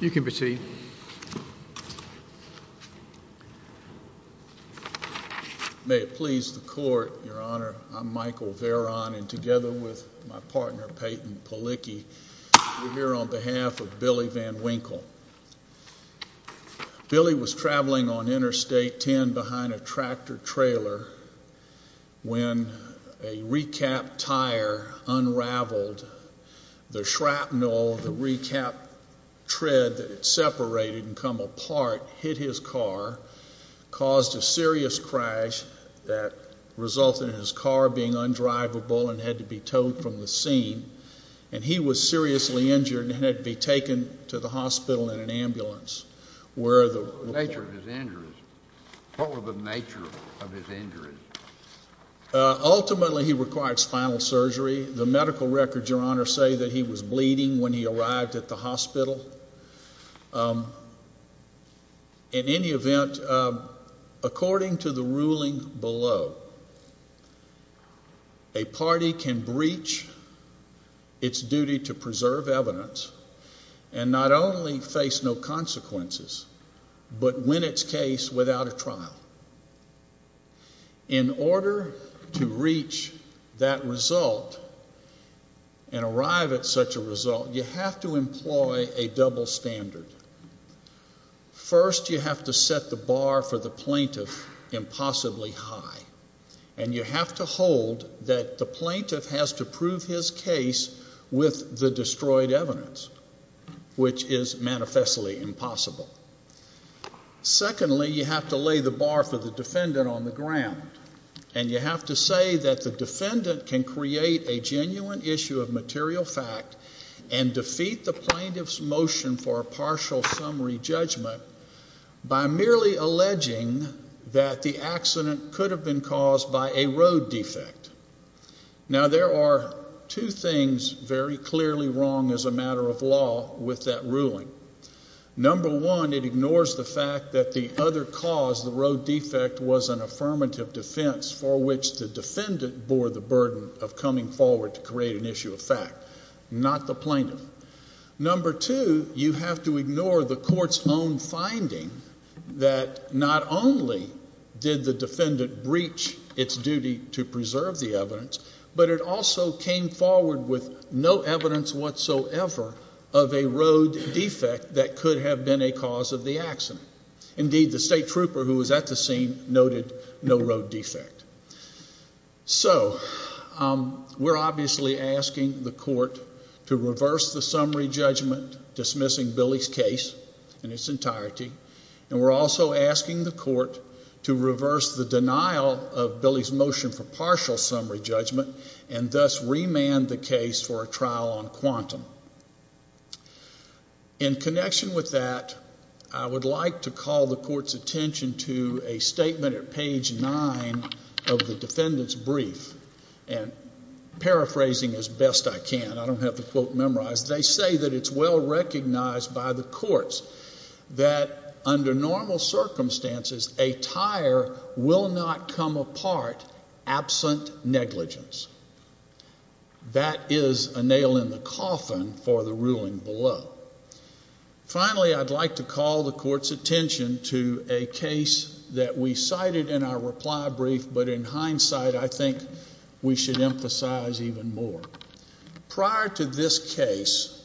You can proceed. May it please the Court, Your Honor, I'm Michael Veron, and together with my partner Peyton Palicki, we're here on behalf of Billy Van Winkle. Billy was traveling on Interstate 10 behind a tractor-trailer when a recapped tire unraveled. The shrapnel, the recapped tread that had separated and come apart, hit his car, caused a serious crash that resulted in his car being undriveable and had to be towed from the scene. And he was seriously injured and had to be taken to the hospital in an ambulance, where the- What were the nature of his injuries? Ultimately, he required spinal surgery. The medical records, Your Honor, say that he was bleeding when he arrived at the hospital. In any event, according to the ruling below, a party can breach its duty to preserve evidence and not only face no consequences, but win its case without a trial. In order to reach that result and arrive at such a result, you have to employ a double standard. First, you have to set the bar for the plaintiff impossibly high. And you have to hold that the plaintiff has to prove his case with the destroyed evidence, which is manifestly impossible. Secondly, you have to lay the bar for the defendant on the ground. And you have to say that the defendant can create a genuine issue of material fact and defeat the plaintiff's motion for a partial summary judgment by merely alleging that the accident could have been caused by a road defect. Now, there are two things very clearly wrong as a matter of law with that ruling. Number one, it ignores the fact that the other cause, the road defect, was an affirmative defense for which the defendant bore the burden of coming forward to create an issue of fact, not the plaintiff. Number two, you have to ignore the court's own finding that not only did the defendant breach its duty to preserve the evidence, but it also came forward with no evidence whatsoever of a road defect that could have been a cause of the accident. Indeed, the state trooper who was at the scene noted no road defect. So we're obviously asking the court to reverse the summary judgment, dismissing Billy's case in its entirety, and we're also asking the court to reverse the denial of Billy's motion for partial summary judgment and thus remand the case for a trial on quantum. In connection with that, I would like to call the court's attention to a statement at page nine of the defendant's brief, and paraphrasing as best I can. I don't have the quote memorized. They say that it's well recognized by the courts that under normal circumstances, a tire will not come apart absent negligence. That is a nail in the coffin for the ruling below. Finally, I'd like to call the court's attention to a case that we cited in our reply brief, but in hindsight I think we should emphasize even more. Prior to this case,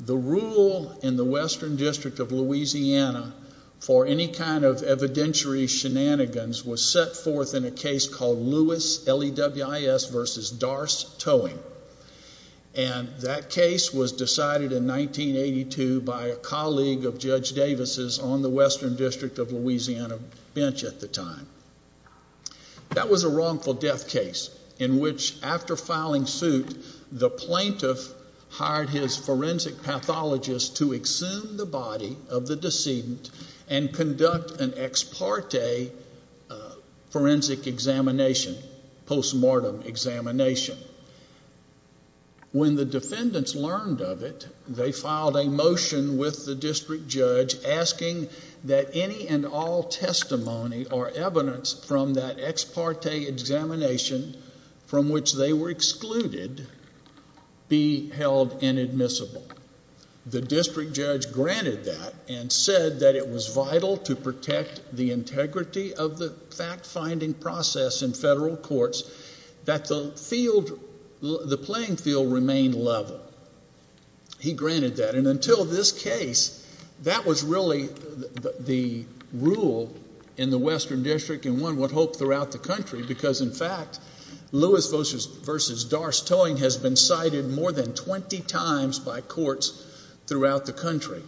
the rule in the Western District of Louisiana for any kind of evidentiary shenanigans was set forth in a case called Lewis, L-E-W-I-S versus Darce Towing, and that case was decided in 1982 by a colleague of Judge Davis's on the Western District of Louisiana bench at the time. That was a wrongful death case in which, after filing suit, the plaintiff hired his forensic pathologist to exhume the body of the decedent and conduct an ex parte forensic examination, post-mortem examination. When the defendants learned of it, they filed a motion with the district judge asking that any and all testimony or evidence from that ex parte examination from which they were excluded be held inadmissible. The district judge granted that and said that it was vital to protect the integrity of the fact-finding process in federal courts that the playing field remain level. He granted that, and until this case, that was really the rule in the Western District and one would hope throughout the country because, in fact, Lewis versus Darce Towing has been cited more than 20 times by courts throughout the country.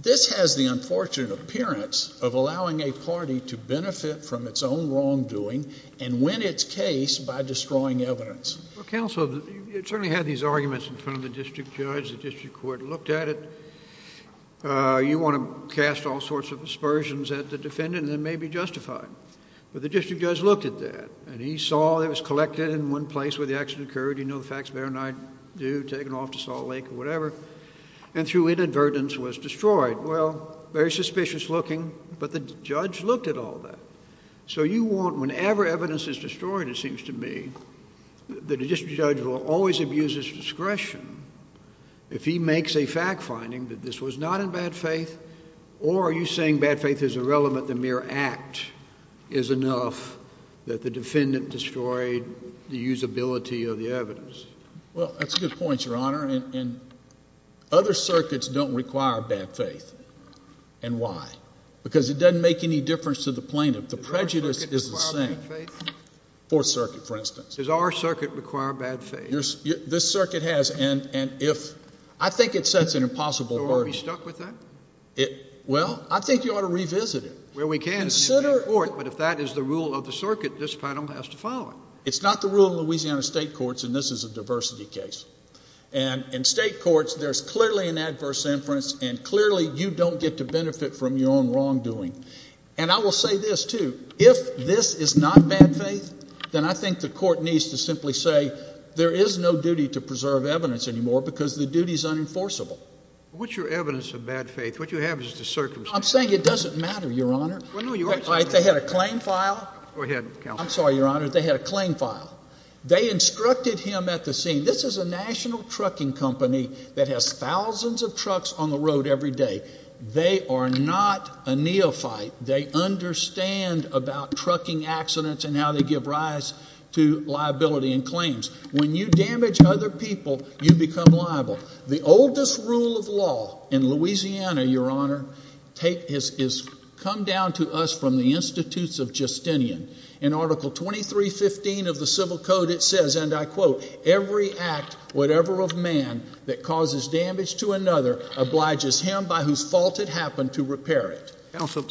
This has the unfortunate appearance of allowing a party to benefit from its own wrongdoing and win its case by destroying evidence. Well, counsel, you certainly had these arguments in front of the district judge. The district court looked at it. You want to cast all sorts of aspersions at the defendant that may be justified, but the district judge looked at that, and he saw it was collected in one place where the accident occurred. You know the facts better than I do, taken off to Salt Lake or whatever, and through inadvertence was destroyed. Well, very suspicious looking, but the judge looked at all that. So you want whenever evidence is destroyed, it seems to me, that a district judge will always abuse his discretion if he makes a fact-finding that this was not in bad faith or are you saying bad faith is irrelevant, the mere act is enough, that the defendant destroyed the usability of the evidence? Well, that's a good point, Your Honor, and other circuits don't require bad faith. And why? Because it doesn't make any difference to the plaintiff. The prejudice is the same. Does our circuit require bad faith? Fourth Circuit, for instance. Does our circuit require bad faith? This circuit has, and if—I think it sets an impossible burden. So are we stuck with that? Well, I think you ought to revisit it. Well, we can, but if that is the rule of the circuit, this panel has to follow it. It's not the rule of Louisiana state courts, and this is a diversity case. And in state courts, there's clearly an adverse inference, and clearly you don't get to benefit from your own wrongdoing. And I will say this, too. If this is not bad faith, then I think the court needs to simply say there is no duty to preserve evidence anymore because the duty is unenforceable. What's your evidence of bad faith? What you have is just a circumstance. I'm saying it doesn't matter, Your Honor. Well, no, you are saying it doesn't matter. They had a claim file. Go ahead, counsel. I'm sorry, Your Honor. They had a claim file. They instructed him at the scene. This is a national trucking company that has thousands of trucks on the road every day. They are not a neophyte. They understand about trucking accidents and how they give rise to liability and claims. When you damage other people, you become liable. The oldest rule of law in Louisiana, Your Honor, has come down to us from the Institutes of Justinian. In Article 2315 of the Civil Code, it says, and I quote, every act whatever of man that causes damage to another obliges him by whose fault it happened to repair it. Counsel,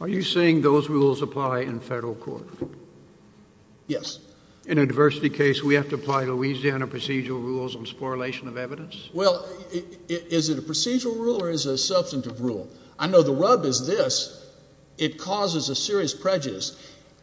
are you saying those rules apply in federal court? Yes. In a diversity case, we have to apply Louisiana procedural rules on spoliation of evidence? Well, is it a procedural rule or is it a substantive rule? I know the rub is this. It causes a serious prejudice.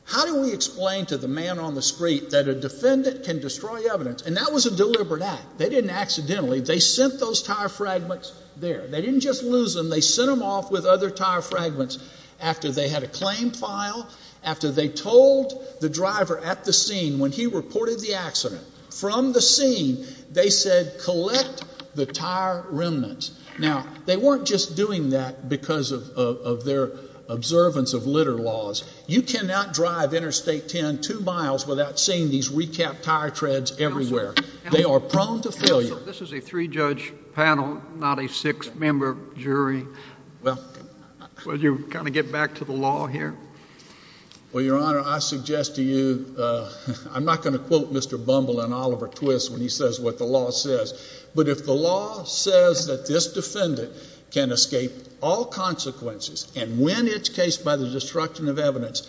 How do we explain to the man on the street that a defendant can destroy evidence? And that was a deliberate act. They didn't accidentally. They sent those tire fragments there. They didn't just lose them. They sent them off with other tire fragments after they had a claim file, after they told the driver at the scene when he reported the accident. From the scene, they said collect the tire remnants. Now, they weren't just doing that because of their observance of litter laws. You cannot drive Interstate 10 two miles without seeing these recapped tire treads everywhere. They are prone to failure. Counsel, this is a three-judge panel, not a six-member jury. Will you kind of get back to the law here? Well, Your Honor, I suggest to you, I'm not going to quote Mr. Bumble and Oliver Twist when he says what the law says, but if the law says that this defendant can escape all consequences and win its case by the destruction of evidence,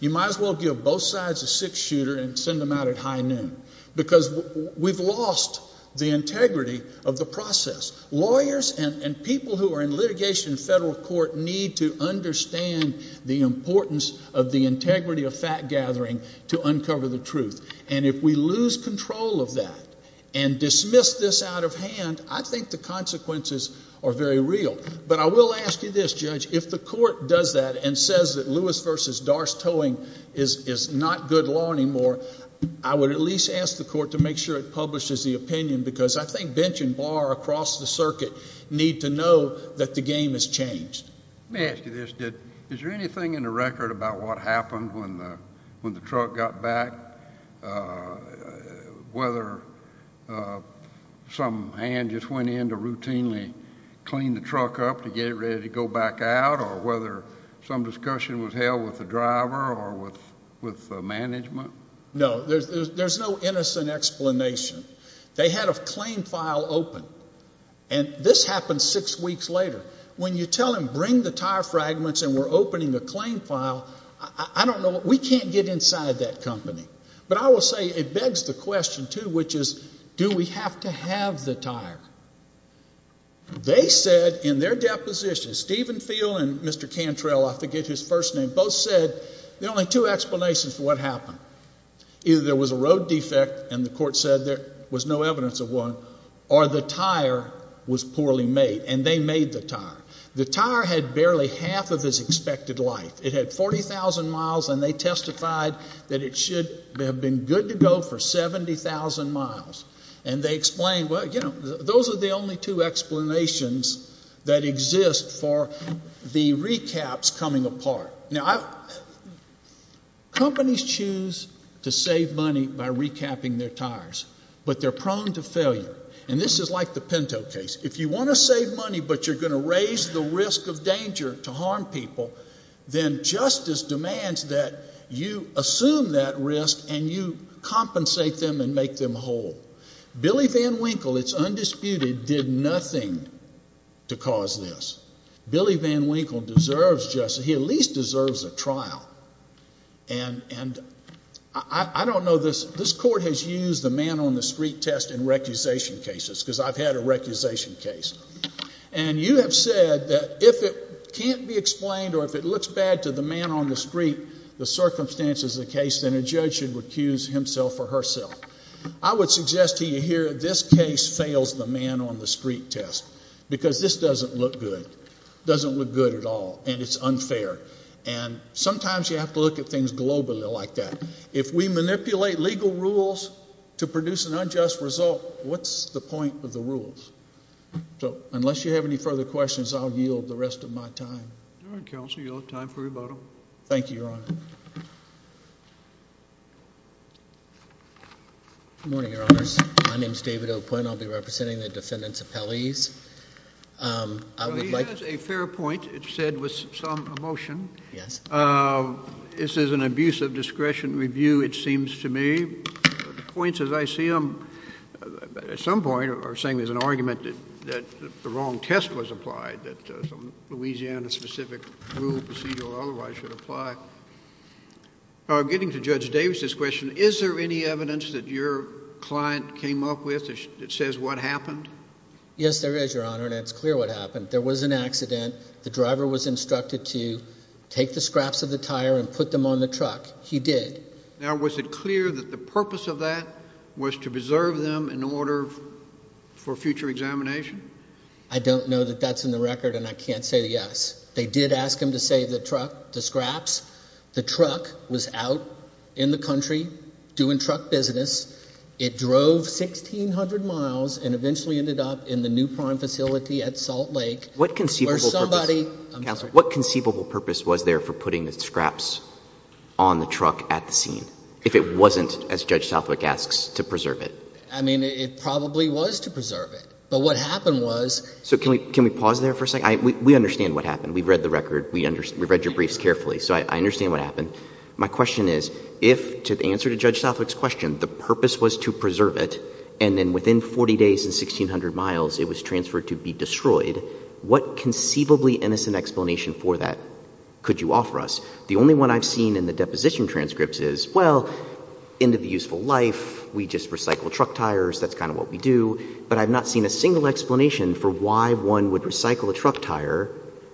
you might as well give both sides a six-shooter and send them out at high noon because we've lost the integrity of the process. Lawyers and people who are in litigation in federal court need to understand the importance of the integrity of fact-gathering to uncover the truth. And if we lose control of that and dismiss this out of hand, I think the consequences are very real. But I will ask you this, Judge. If the court does that and says that Lewis v. Darce towing is not good law anymore, I would at least ask the court to make sure it publishes the opinion because I think bench and bar across the circuit need to know that the game has changed. Let me ask you this. Is there anything in the record about what happened when the truck got back, whether some hand just went in to routinely clean the truck up to get it ready to go back out or whether some discussion was held with the driver or with management? No, there's no innocent explanation. They had a claim file open, and this happened six weeks later. When you tell them bring the tire fragments and we're opening a claim file, I don't know. We can't get inside that company. But I will say it begs the question, too, which is do we have to have the tire? They said in their deposition, Stephen Field and Mr. Cantrell, I forget his first name, both said there are only two explanations for what happened. Either there was a road defect and the court said there was no evidence of one or the tire was poorly made, and they made the tire. The tire had barely half of its expected life. It had 40,000 miles, and they testified that it should have been good to go for 70,000 miles. And they explained, well, you know, those are the only two explanations that exist for the recaps coming apart. Companies choose to save money by recapping their tires, but they're prone to failure. And this is like the Pinto case. If you want to save money but you're going to raise the risk of danger to harm people, then justice demands that you assume that risk and you compensate them and make them whole. Billy Van Winkle, it's undisputed, did nothing to cause this. Billy Van Winkle deserves justice. But he at least deserves a trial. And I don't know this, this court has used the man on the street test in recusation cases because I've had a recusation case. And you have said that if it can't be explained or if it looks bad to the man on the street, the circumstances of the case, then a judge should recuse himself or herself. I would suggest to you here this case fails the man on the street test because this doesn't look good, doesn't look good at all, and it's unfair. And sometimes you have to look at things globally like that. If we manipulate legal rules to produce an unjust result, what's the point of the rules? So unless you have any further questions, I'll yield the rest of my time. All right, counsel, you'll have time for a vote. Thank you, Your Honor. Good morning, Your Honors. My name is David O. Quinn. I'll be representing the defendant's appellees. He has a fair point. It's said with some emotion. Yes. This is an abuse of discretion review, it seems to me. The points as I see them at some point are saying there's an argument that the wrong test was applied, that some Louisiana-specific rule, procedure, or otherwise should apply. Getting to Judge Davis's question, is there any evidence that your client came up with that says what happened? Yes, there is, Your Honor, and it's clear what happened. There was an accident. The driver was instructed to take the scraps of the tire and put them on the truck. He did. Now, was it clear that the purpose of that was to preserve them in order for future examination? I don't know that that's in the record, and I can't say yes. They did ask him to save the truck, the scraps. The truck was out in the country doing truck business. It drove 1,600 miles and eventually ended up in the new prime facility at Salt Lake. What conceivable purpose was there for putting the scraps on the truck at the scene if it wasn't, as Judge Southwick asks, to preserve it? I mean, it probably was to preserve it, but what happened was— So can we pause there for a second? We understand what happened. We've read the record. We've read your briefs carefully, so I understand what happened. My question is, if, to answer to Judge Southwick's question, the purpose was to preserve it, and then within 40 days and 1,600 miles it was transferred to be destroyed, what conceivably innocent explanation for that could you offer us? The only one I've seen in the deposition transcripts is, well, end of the useful life, we just recycle truck tires. That's kind of what we do. But I've not seen a single explanation for why one would recycle a truck tire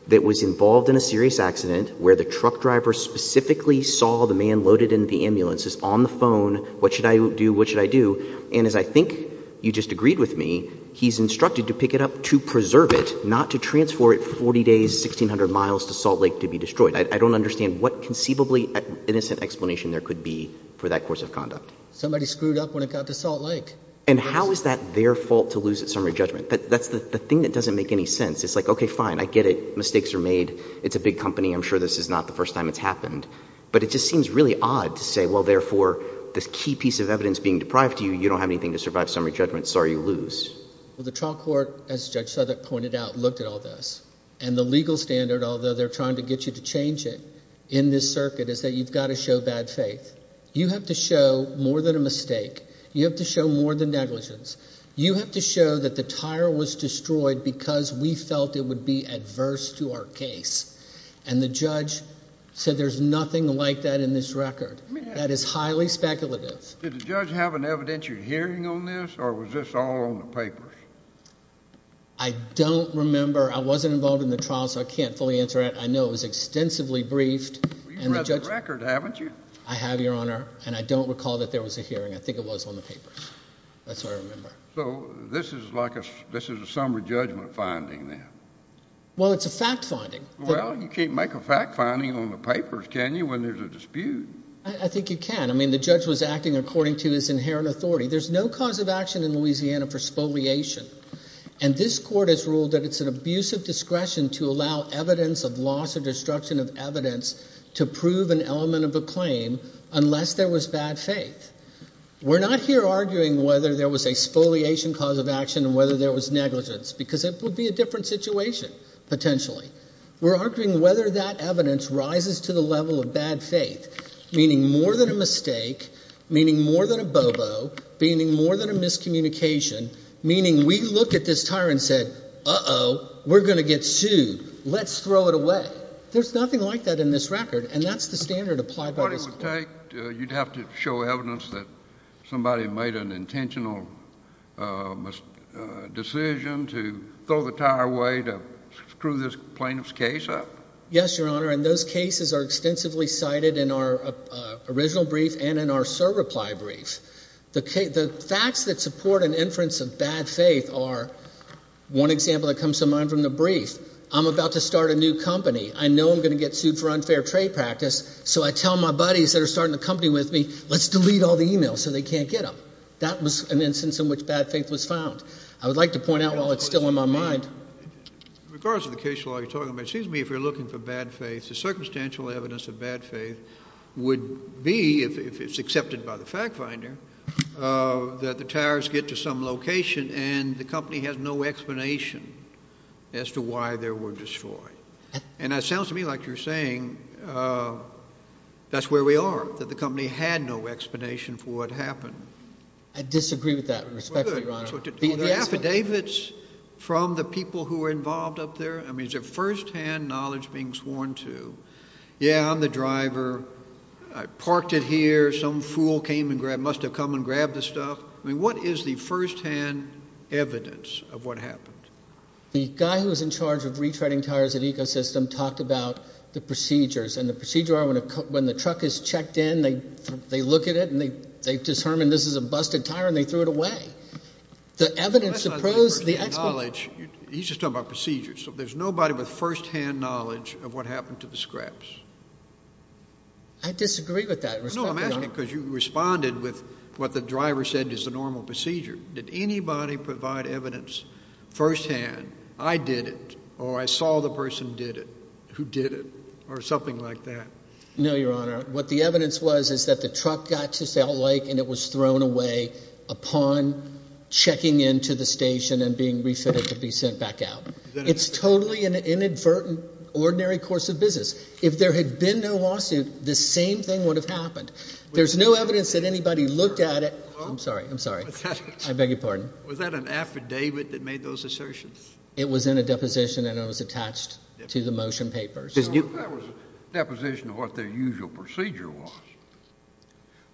that was involved in a serious accident where the truck driver specifically saw the man loaded into the ambulance, is on the phone, what should I do, what should I do? And as I think you just agreed with me, he's instructed to pick it up to preserve it, not to transfer it for 40 days, 1,600 miles to Salt Lake to be destroyed. I don't understand what conceivably innocent explanation there could be for that course of conduct. Somebody screwed up when it got to Salt Lake. And how is that their fault to lose at summary judgment? That's the thing that doesn't make any sense. It's like, okay, fine, I get it. Mistakes are made. It's a big company. I'm sure this is not the first time it's happened. But it just seems really odd to say, well, therefore, this key piece of evidence being deprived to you, you don't have anything to survive summary judgment, sorry, you lose. Well, the trial court, as Judge Southwick pointed out, looked at all this. And the legal standard, although they're trying to get you to change it in this circuit, is that you've got to show bad faith. You have to show more than a mistake. You have to show more than negligence. You have to show that the tire was destroyed because we felt it would be adverse to our case. And the judge said there's nothing like that in this record. That is highly speculative. Did the judge have an evidentiary hearing on this or was this all on the papers? I don't remember. I wasn't involved in the trial, so I can't fully answer that. I know it was extensively briefed. You've read the record, haven't you? I have, Your Honor. And I don't recall that there was a hearing. I think it was on the papers. That's all I remember. So this is like a summary judgment finding then? Well, it's a fact finding. Well, you can't make a fact finding on the papers, can you, when there's a dispute? I think you can. I mean the judge was acting according to his inherent authority. There's no cause of action in Louisiana for spoliation. And this court has ruled that it's an abuse of discretion to allow evidence of loss or destruction of evidence to prove an element of a claim unless there was bad faith. We're not here arguing whether there was a spoliation cause of action and whether there was negligence because it would be a different situation potentially. We're arguing whether that evidence rises to the level of bad faith, meaning more than a mistake, meaning more than a bobo, meaning more than a miscommunication, meaning we look at this tire and said, uh-oh, we're going to get sued. Let's throw it away. But there's nothing like that in this record, and that's the standard applied by this court. What it would take, you'd have to show evidence that somebody made an intentional decision to throw the tire away to screw this plaintiff's case up? Yes, Your Honor, and those cases are extensively cited in our original brief and in our SIR reply brief. The facts that support an inference of bad faith are, one example that comes to mind from the brief, I'm about to start a new company. I know I'm going to get sued for unfair trade practice, so I tell my buddies that are starting a company with me, let's delete all the e-mails so they can't get them. That was an instance in which bad faith was found. I would like to point out while it's still in my mind. In regards to the case you're talking about, it seems to me if you're looking for bad faith, the circumstantial evidence of bad faith would be, if it's accepted by the fact finder, that the tires get to some location and the company has no explanation as to why they were destroyed. And it sounds to me like you're saying that's where we are, that the company had no explanation for what happened. I disagree with that respectfully, Your Honor. Were there affidavits from the people who were involved up there? I mean, is there firsthand knowledge being sworn to? Yeah, I'm the driver. I parked it here. Some fool came and must have come and grabbed the stuff. I mean, what is the firsthand evidence of what happened? The guy who was in charge of retreading tires at Ecosystem talked about the procedures, and the procedures are when the truck is checked in, they look at it, and they've determined this is a busted tire, and they threw it away. The evidence supposes the expert… He's just talking about procedures. So there's nobody with firsthand knowledge of what happened to the scraps. I disagree with that respectfully, Your Honor. No, I'm asking because you responded with what the driver said is the normal procedure. Did anybody provide evidence firsthand, I did it or I saw the person did it, who did it, or something like that? No, Your Honor. What the evidence was is that the truck got to Salt Lake and it was thrown away upon checking into the station and being refitted to be sent back out. It's totally an inadvertent, ordinary course of business. If there had been no lawsuit, the same thing would have happened. There's no evidence that anybody looked at it. I'm sorry, I'm sorry. I beg your pardon. Was that an affidavit that made those assertions? It was in a deposition, and it was attached to the motion papers. That was a deposition of what their usual procedure was.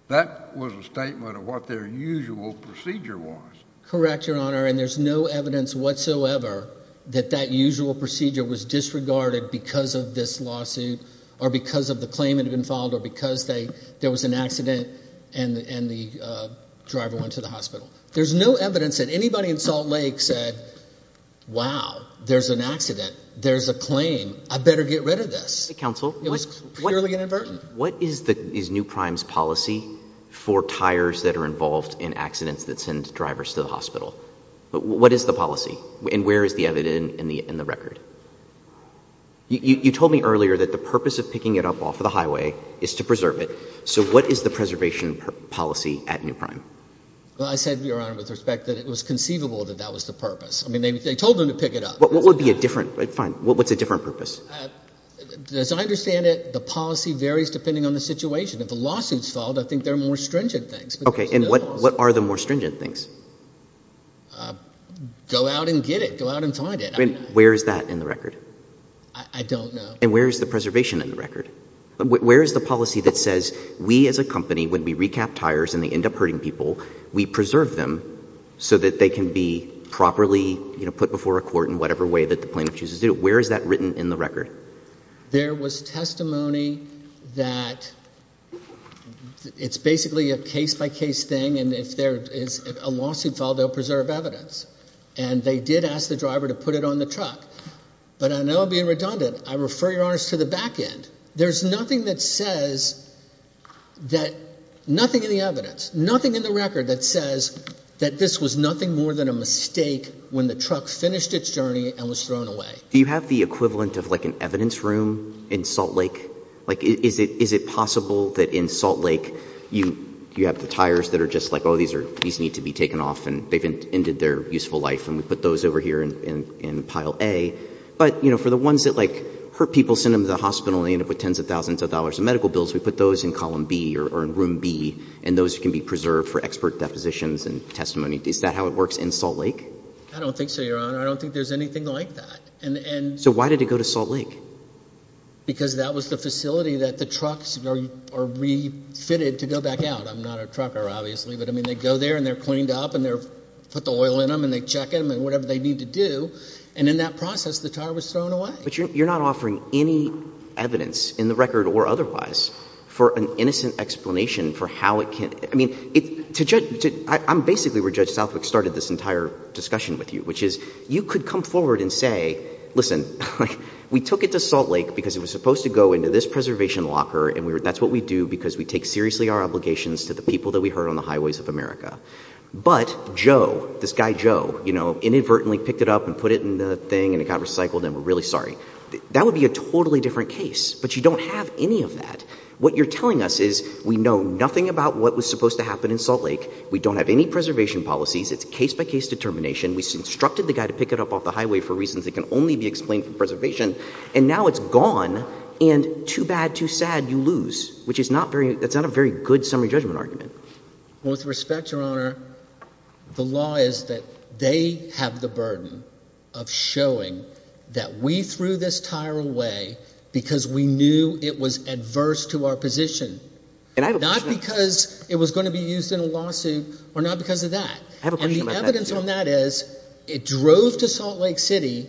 That was a statement of what their usual procedure was. Correct, Your Honor, and there's no evidence whatsoever that that usual procedure was disregarded because of this lawsuit or because of the claim that had been filed or because there was an accident and the driver went to the hospital. There's no evidence that anybody in Salt Lake said, wow, there's an accident, there's a claim, I better get rid of this. Counsel. It was purely inadvertent. What is New Prime's policy for tires that are involved in accidents that send drivers to the hospital? What is the policy, and where is the evidence in the record? You told me earlier that the purpose of picking it up off the highway is to preserve it. So what is the preservation policy at New Prime? Well, I said, Your Honor, with respect, that it was conceivable that that was the purpose. I mean, they told them to pick it up. What would be a different – fine. What's a different purpose? As I understand it, the policy varies depending on the situation. If the lawsuit's filed, I think there are more stringent things. Okay, and what are the more stringent things? Go out and get it. Go out and find it. Where is that in the record? I don't know. And where is the preservation in the record? Where is the policy that says we as a company, when we recap tires and they end up hurting people, we preserve them so that they can be properly put before a court in whatever way that the plaintiff chooses to do it? Where is that written in the record? There was testimony that it's basically a case-by-case thing, and if there is a lawsuit filed, they'll preserve evidence. And they did ask the driver to put it on the truck. But I know I'm being redundant. I refer, Your Honor, to the back end. There's nothing that says that – nothing in the evidence, nothing in the record that says that this was nothing more than a mistake when the truck finished its journey and was thrown away. Do you have the equivalent of, like, an evidence room in Salt Lake? Like, is it possible that in Salt Lake you have the tires that are just like, oh, these need to be taken off and they've ended their useful life, and we put those over here in pile A? But, you know, for the ones that, like, hurt people, send them to the hospital, and they end up with tens of thousands of dollars in medical bills, we put those in column B or in room B, and those can be preserved for expert depositions and testimony. Is that how it works in Salt Lake? I don't think so, Your Honor. I don't think there's anything like that. So why did it go to Salt Lake? Because that was the facility that the trucks are refitted to go back out. I'm not a trucker, obviously, but, I mean, they go there and they're cleaned up and they put the oil in them and they check them and whatever they need to do, and in that process the tire was thrown away. But you're not offering any evidence in the record or otherwise for an innocent explanation for how it can – I mean, to judge – I'm basically where Judge Southwick started this entire discussion with you, which is you could come forward and say, listen, we took it to Salt Lake because it was supposed to go into this preservation locker and that's what we do because we take seriously our obligations to the people that we hurt on the highways of America. But Joe, this guy Joe, you know, inadvertently picked it up and put it in the thing and it got recycled and we're really sorry. That would be a totally different case, but you don't have any of that. What you're telling us is we know nothing about what was supposed to happen in Salt Lake, we don't have any preservation policies, it's case-by-case determination, we instructed the guy to pick it up off the highway for reasons that can only be explained from preservation, and now it's gone and too bad, too sad, you lose, which is not very – that's not a very good summary judgment argument. Well, with respect, Your Honor, the law is that they have the burden of showing that we threw this tire away because we knew it was adverse to our position, not because it was going to be used in a lawsuit or not because of that. And the evidence on that is it drove to Salt Lake City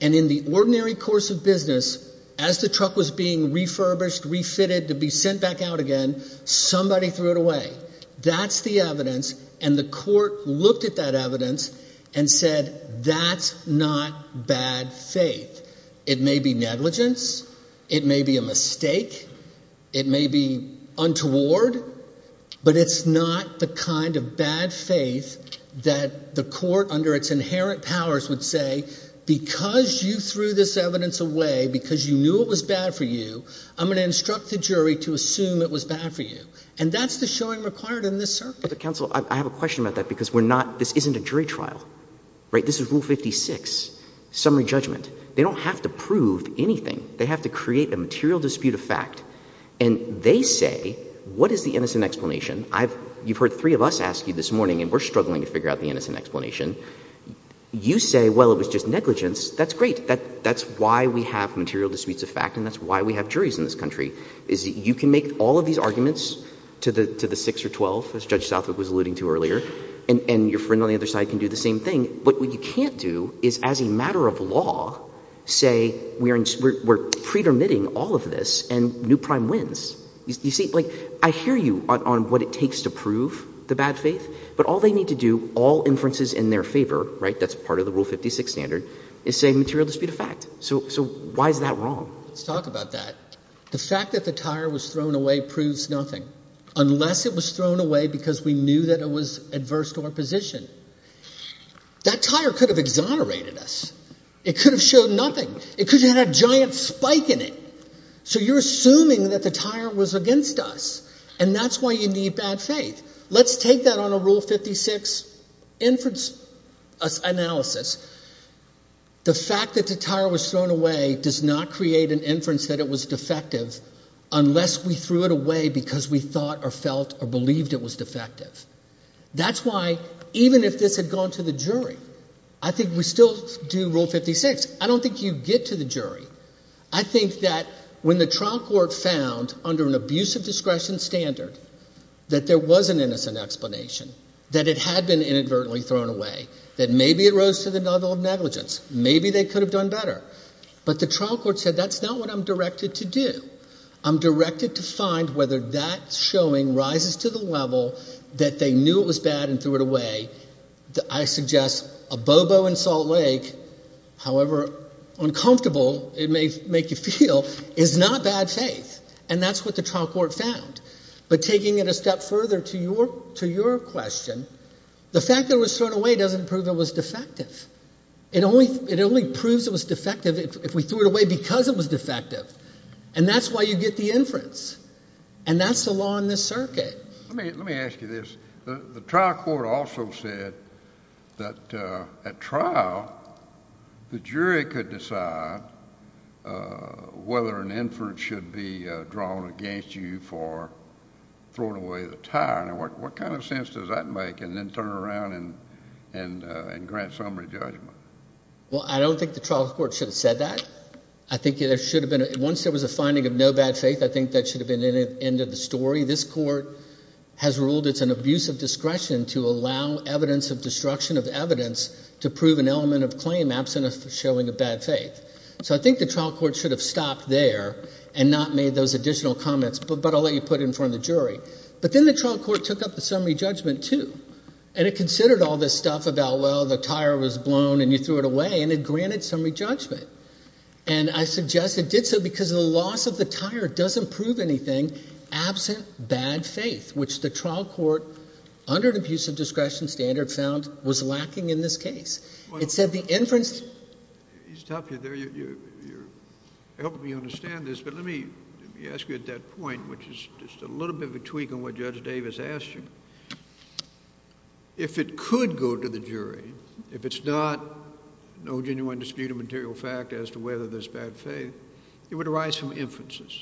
and in the ordinary course of business, as the truck was being refurbished, refitted to be sent back out again, somebody threw it away. That's the evidence, and the court looked at that evidence and said that's not bad faith. It may be negligence, it may be a mistake, it may be untoward, but it's not the kind of bad faith that the court under its inherent powers would say because you threw this evidence away, because you knew it was bad for you, I'm going to instruct the jury to assume it was bad for you. And that's the showing required in this circuit. Counsel, I have a question about that because we're not – this isn't a jury trial. This is Rule 56, summary judgment. They don't have to prove anything. They have to create a material dispute of fact, and they say what is the innocent explanation? You've heard three of us ask you this morning, and we're struggling to figure out the innocent explanation. You say, well, it was just negligence. That's great. That's why we have material disputes of fact, and that's why we have juries in this country, is that you can make all of these arguments to the 6 or 12, as Judge Southwick was alluding to earlier, and your friend on the other side can do the same thing. But what you can't do is, as a matter of law, say we're pre-permitting all of this and new prime wins. You see, like I hear you on what it takes to prove the bad faith, but all they need to do, all inferences in their favor, right, that's part of the Rule 56 standard, is say material dispute of fact. So why is that wrong? Let's talk about that. The fact that the tire was thrown away proves nothing unless it was thrown away because we knew that it was adverse to our position. That tire could have exonerated us. It could have shown nothing. It could have had a giant spike in it. So you're assuming that the tire was against us, and that's why you need bad faith. Let's take that on a Rule 56 inference analysis. The fact that the tire was thrown away does not create an inference that it was defective unless we threw it away because we thought or felt or believed it was defective. That's why, even if this had gone to the jury, I think we still do Rule 56. I don't think you get to the jury. I think that when the trial court found, under an abuse of discretion standard, that there was an innocent explanation, that it had been inadvertently thrown away, that maybe it rose to the level of negligence, maybe they could have done better. But the trial court said that's not what I'm directed to do. I'm directed to find whether that showing rises to the level that they knew it was bad and threw it away. I suggest a bobo in Salt Lake, however uncomfortable it may make you feel, is not bad faith. And that's what the trial court found. But taking it a step further to your question, the fact that it was thrown away doesn't prove it was defective. It only proves it was defective if we threw it away because it was defective. And that's why you get the inference, and that's the law in this circuit. Let me ask you this. The trial court also said that at trial the jury could decide whether an inference should be drawn against you for throwing away the tire. Now, what kind of sense does that make? And then turn around and grant summary judgment. Well, I don't think the trial court should have said that. I think there should have been – once there was a finding of no bad faith, I think that should have been the end of the story. This court has ruled it's an abuse of discretion to allow evidence of destruction of evidence to prove an element of claim absent of showing a bad faith. So I think the trial court should have stopped there and not made those additional comments. But I'll let you put it in front of the jury. But then the trial court took up the summary judgment too. And it considered all this stuff about, well, the tire was blown and you threw it away, and it granted summary judgment. And I suggest it did so because the loss of the tire doesn't prove anything absent bad faith, which the trial court, under an abuse of discretion standard, found was lacking in this case. It said the inference – You're helping me understand this, but let me ask you at that point, which is just a little bit of a tweak on what Judge Davis asked you. If it could go to the jury, if it's not no genuine dispute of material fact as to whether there's bad faith, it would arise from inferences.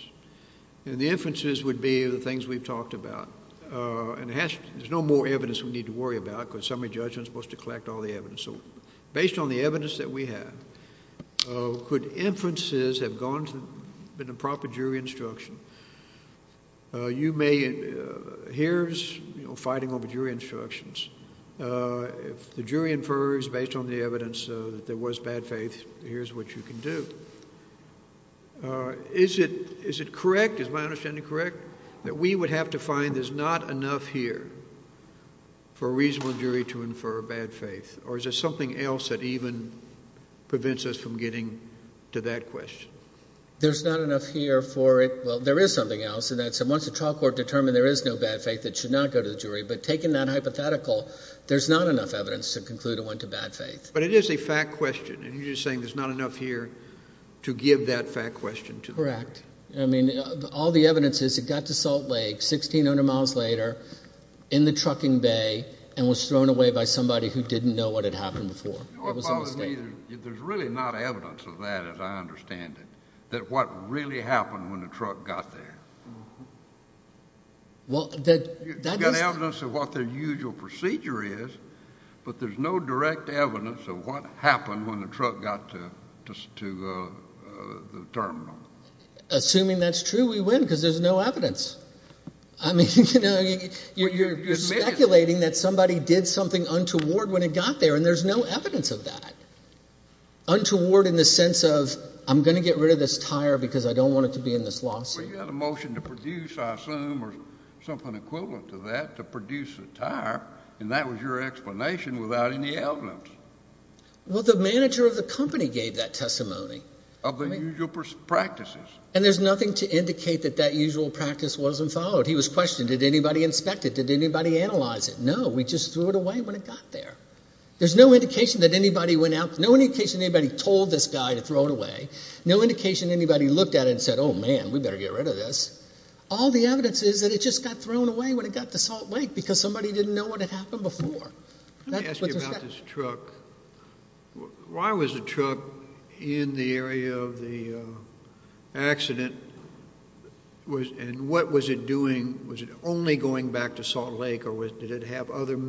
And the inferences would be the things we've talked about. And there's no more evidence we need to worry about because summary judgment is supposed to collect all the evidence. So based on the evidence that we have, could inferences have been a proper jury instruction? You may – here's fighting over jury instructions. If the jury infers based on the evidence that there was bad faith, here's what you can do. Is it correct, is my understanding correct, that we would have to find there's not enough here for a reasonable jury to infer bad faith? Or is there something else that even prevents us from getting to that question? There's not enough here for it. Well, there is something else, and that's once the trial court determined there is no bad faith, it should not go to the jury. But taking that hypothetical, there's not enough evidence to conclude it went to bad faith. But it is a fact question, and you're just saying there's not enough here to give that fact question to the jury. Correct. I mean, all the evidence is it got to Salt Lake 1,600 miles later in the trucking bay and was thrown away by somebody who didn't know what had happened before. It was a mistake. There's really not evidence of that, as I understand it, that what really happened when the truck got there. You've got evidence of what the usual procedure is, but there's no direct evidence of what happened when the truck got to the terminal. Assuming that's true, we win because there's no evidence. I mean, you're speculating that somebody did something untoward when it got there, and there's no evidence of that, untoward in the sense of I'm going to get rid of this tire because I don't want it to be in this lawsuit. Well, you had a motion to produce, I assume, or something equivalent to that, to produce a tire, and that was your explanation without any evidence. Well, the manager of the company gave that testimony. Of the usual practices. And there's nothing to indicate that that usual practice wasn't followed. He was questioning, did anybody inspect it? Did anybody analyze it? No, we just threw it away when it got there. There's no indication that anybody went out, no indication anybody told this guy to throw it away, no indication anybody looked at it and said, oh, man, we better get rid of this. All the evidence is that it just got thrown away when it got to Salt Lake because somebody didn't know what had happened before. Let me ask you about this truck. Why was the truck in the area of the accident and what was it doing? Was it only going back to Salt Lake or did it have other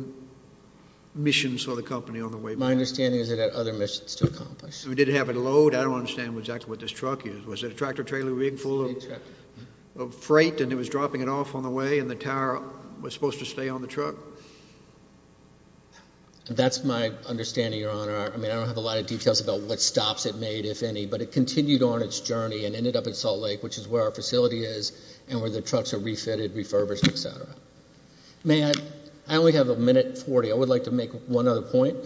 missions for the company on the way back? My understanding is it had other missions to accomplish. Did it have a load? I don't understand exactly what this truck is. Was it a tractor-trailer rig full of freight and it was dropping it off on the way and the tower was supposed to stay on the truck? That's my understanding, Your Honor. I mean, I don't have a lot of details about what stops it made, if any, but it continued on its journey and ended up at Salt Lake, which is where our facility is, and where the trucks are refitted, refurbished, et cetera. May I? I only have a minute 40. I would like to make one other point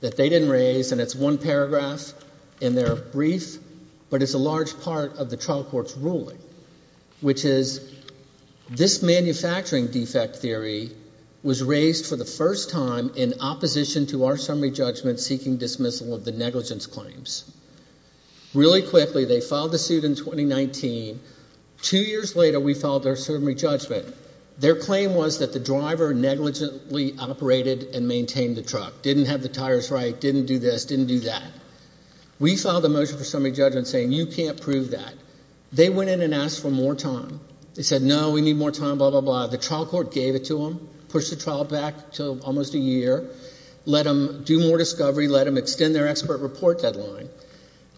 that they didn't raise, and it's one paragraph in their brief, but it's a large part of the trial court's ruling, which is this manufacturing defect theory was raised for the first time in opposition to our summary judgment seeking dismissal of the negligence claims. Really quickly, they filed the suit in 2019. Two years later, we filed our summary judgment. Their claim was that the driver negligently operated and maintained the truck, didn't have the tires right, didn't do this, didn't do that. We filed a motion for summary judgment saying you can't prove that. They went in and asked for more time. They said, no, we need more time, blah, blah, blah. The trial court gave it to them, pushed the trial back to almost a year, let them do more discovery, let them extend their expert report deadline.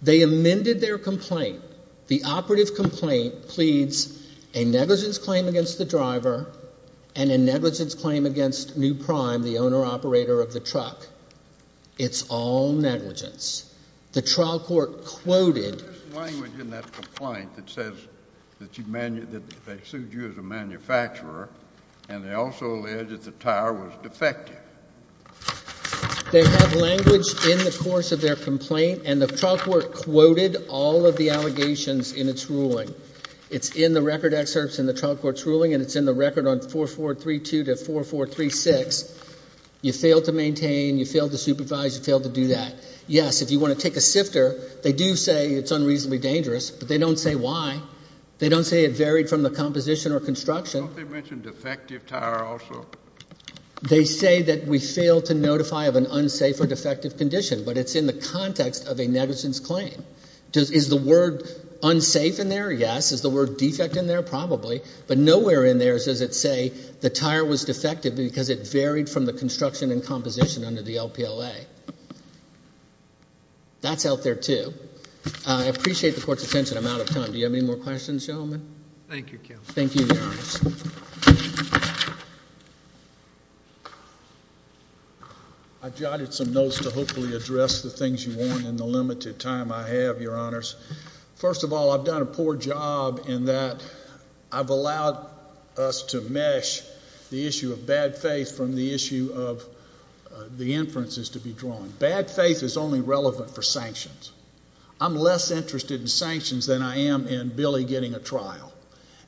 They amended their complaint. The operative complaint pleads a negligence claim against the driver and a negligence claim against New Prime, the owner-operator of the truck. It's all negligence. The trial court quoted. There's language in that complaint that says that they sued you as a manufacturer and they also alleged that the tire was defective. They have language in the course of their complaint, and the trial court quoted all of the allegations in its ruling. It's in the record excerpts in the trial court's ruling, and it's in the record on 4432 to 4436. You failed to maintain, you failed to supervise, you failed to do that. Yes, if you want to take a sifter, they do say it's unreasonably dangerous, but they don't say why. They don't say it varied from the composition or construction. Don't they mention defective tire also? They say that we failed to notify of an unsafe or defective condition, but it's in the context of a negligence claim. Is the word unsafe in there? Yes. Is the word defect in there? Probably. But nowhere in there does it say the tire was defective because it varied from the construction and composition under the LPLA. That's out there too. I appreciate the court's attention. I'm out of time. Do you have any more questions, gentlemen? Thank you, Counsel. Thank you, Your Honors. I jotted some notes to hopefully address the things you want in the limited time I have, Your Honors. First of all, I've done a poor job in that I've allowed us to mesh the issue of bad faith from the issue of the inferences to be drawn. Bad faith is only relevant for sanctions. I'm less interested in sanctions than I am in Billy getting a trial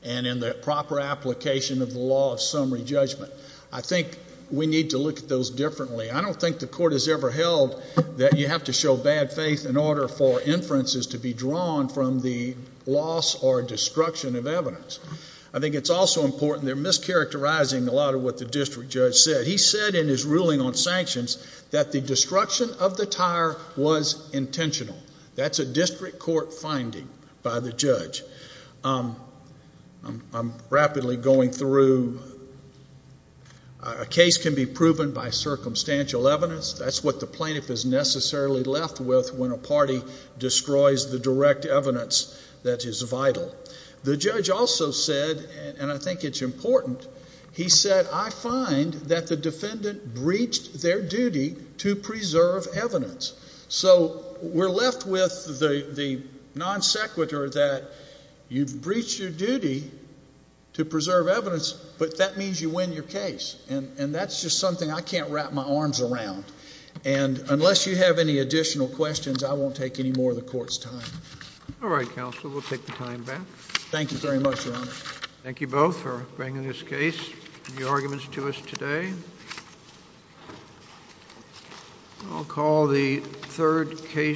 and in the proper application of the law of summary judgment. I think we need to look at those differently. I don't think the court has ever held that you have to show bad faith in order for inferences to be drawn from the loss or destruction of evidence. I think it's also important they're mischaracterizing a lot of what the district judge said. He said in his ruling on sanctions that the destruction of the tire was intentional. I'm rapidly going through. A case can be proven by circumstantial evidence. That's what the plaintiff is necessarily left with when a party destroys the direct evidence that is vital. The judge also said, and I think it's important, he said, I find that the defendant breached their duty to preserve evidence. So we're left with the non sequitur that you've breached your duty to preserve evidence, but that means you win your case. And that's just something I can't wrap my arms around. And unless you have any additional questions, I won't take any more of the court's time. All right, counsel. We'll take the time back. Thank you very much, Your Honor. Thank you both for bringing this case and your arguments to us today. I'll call the third case.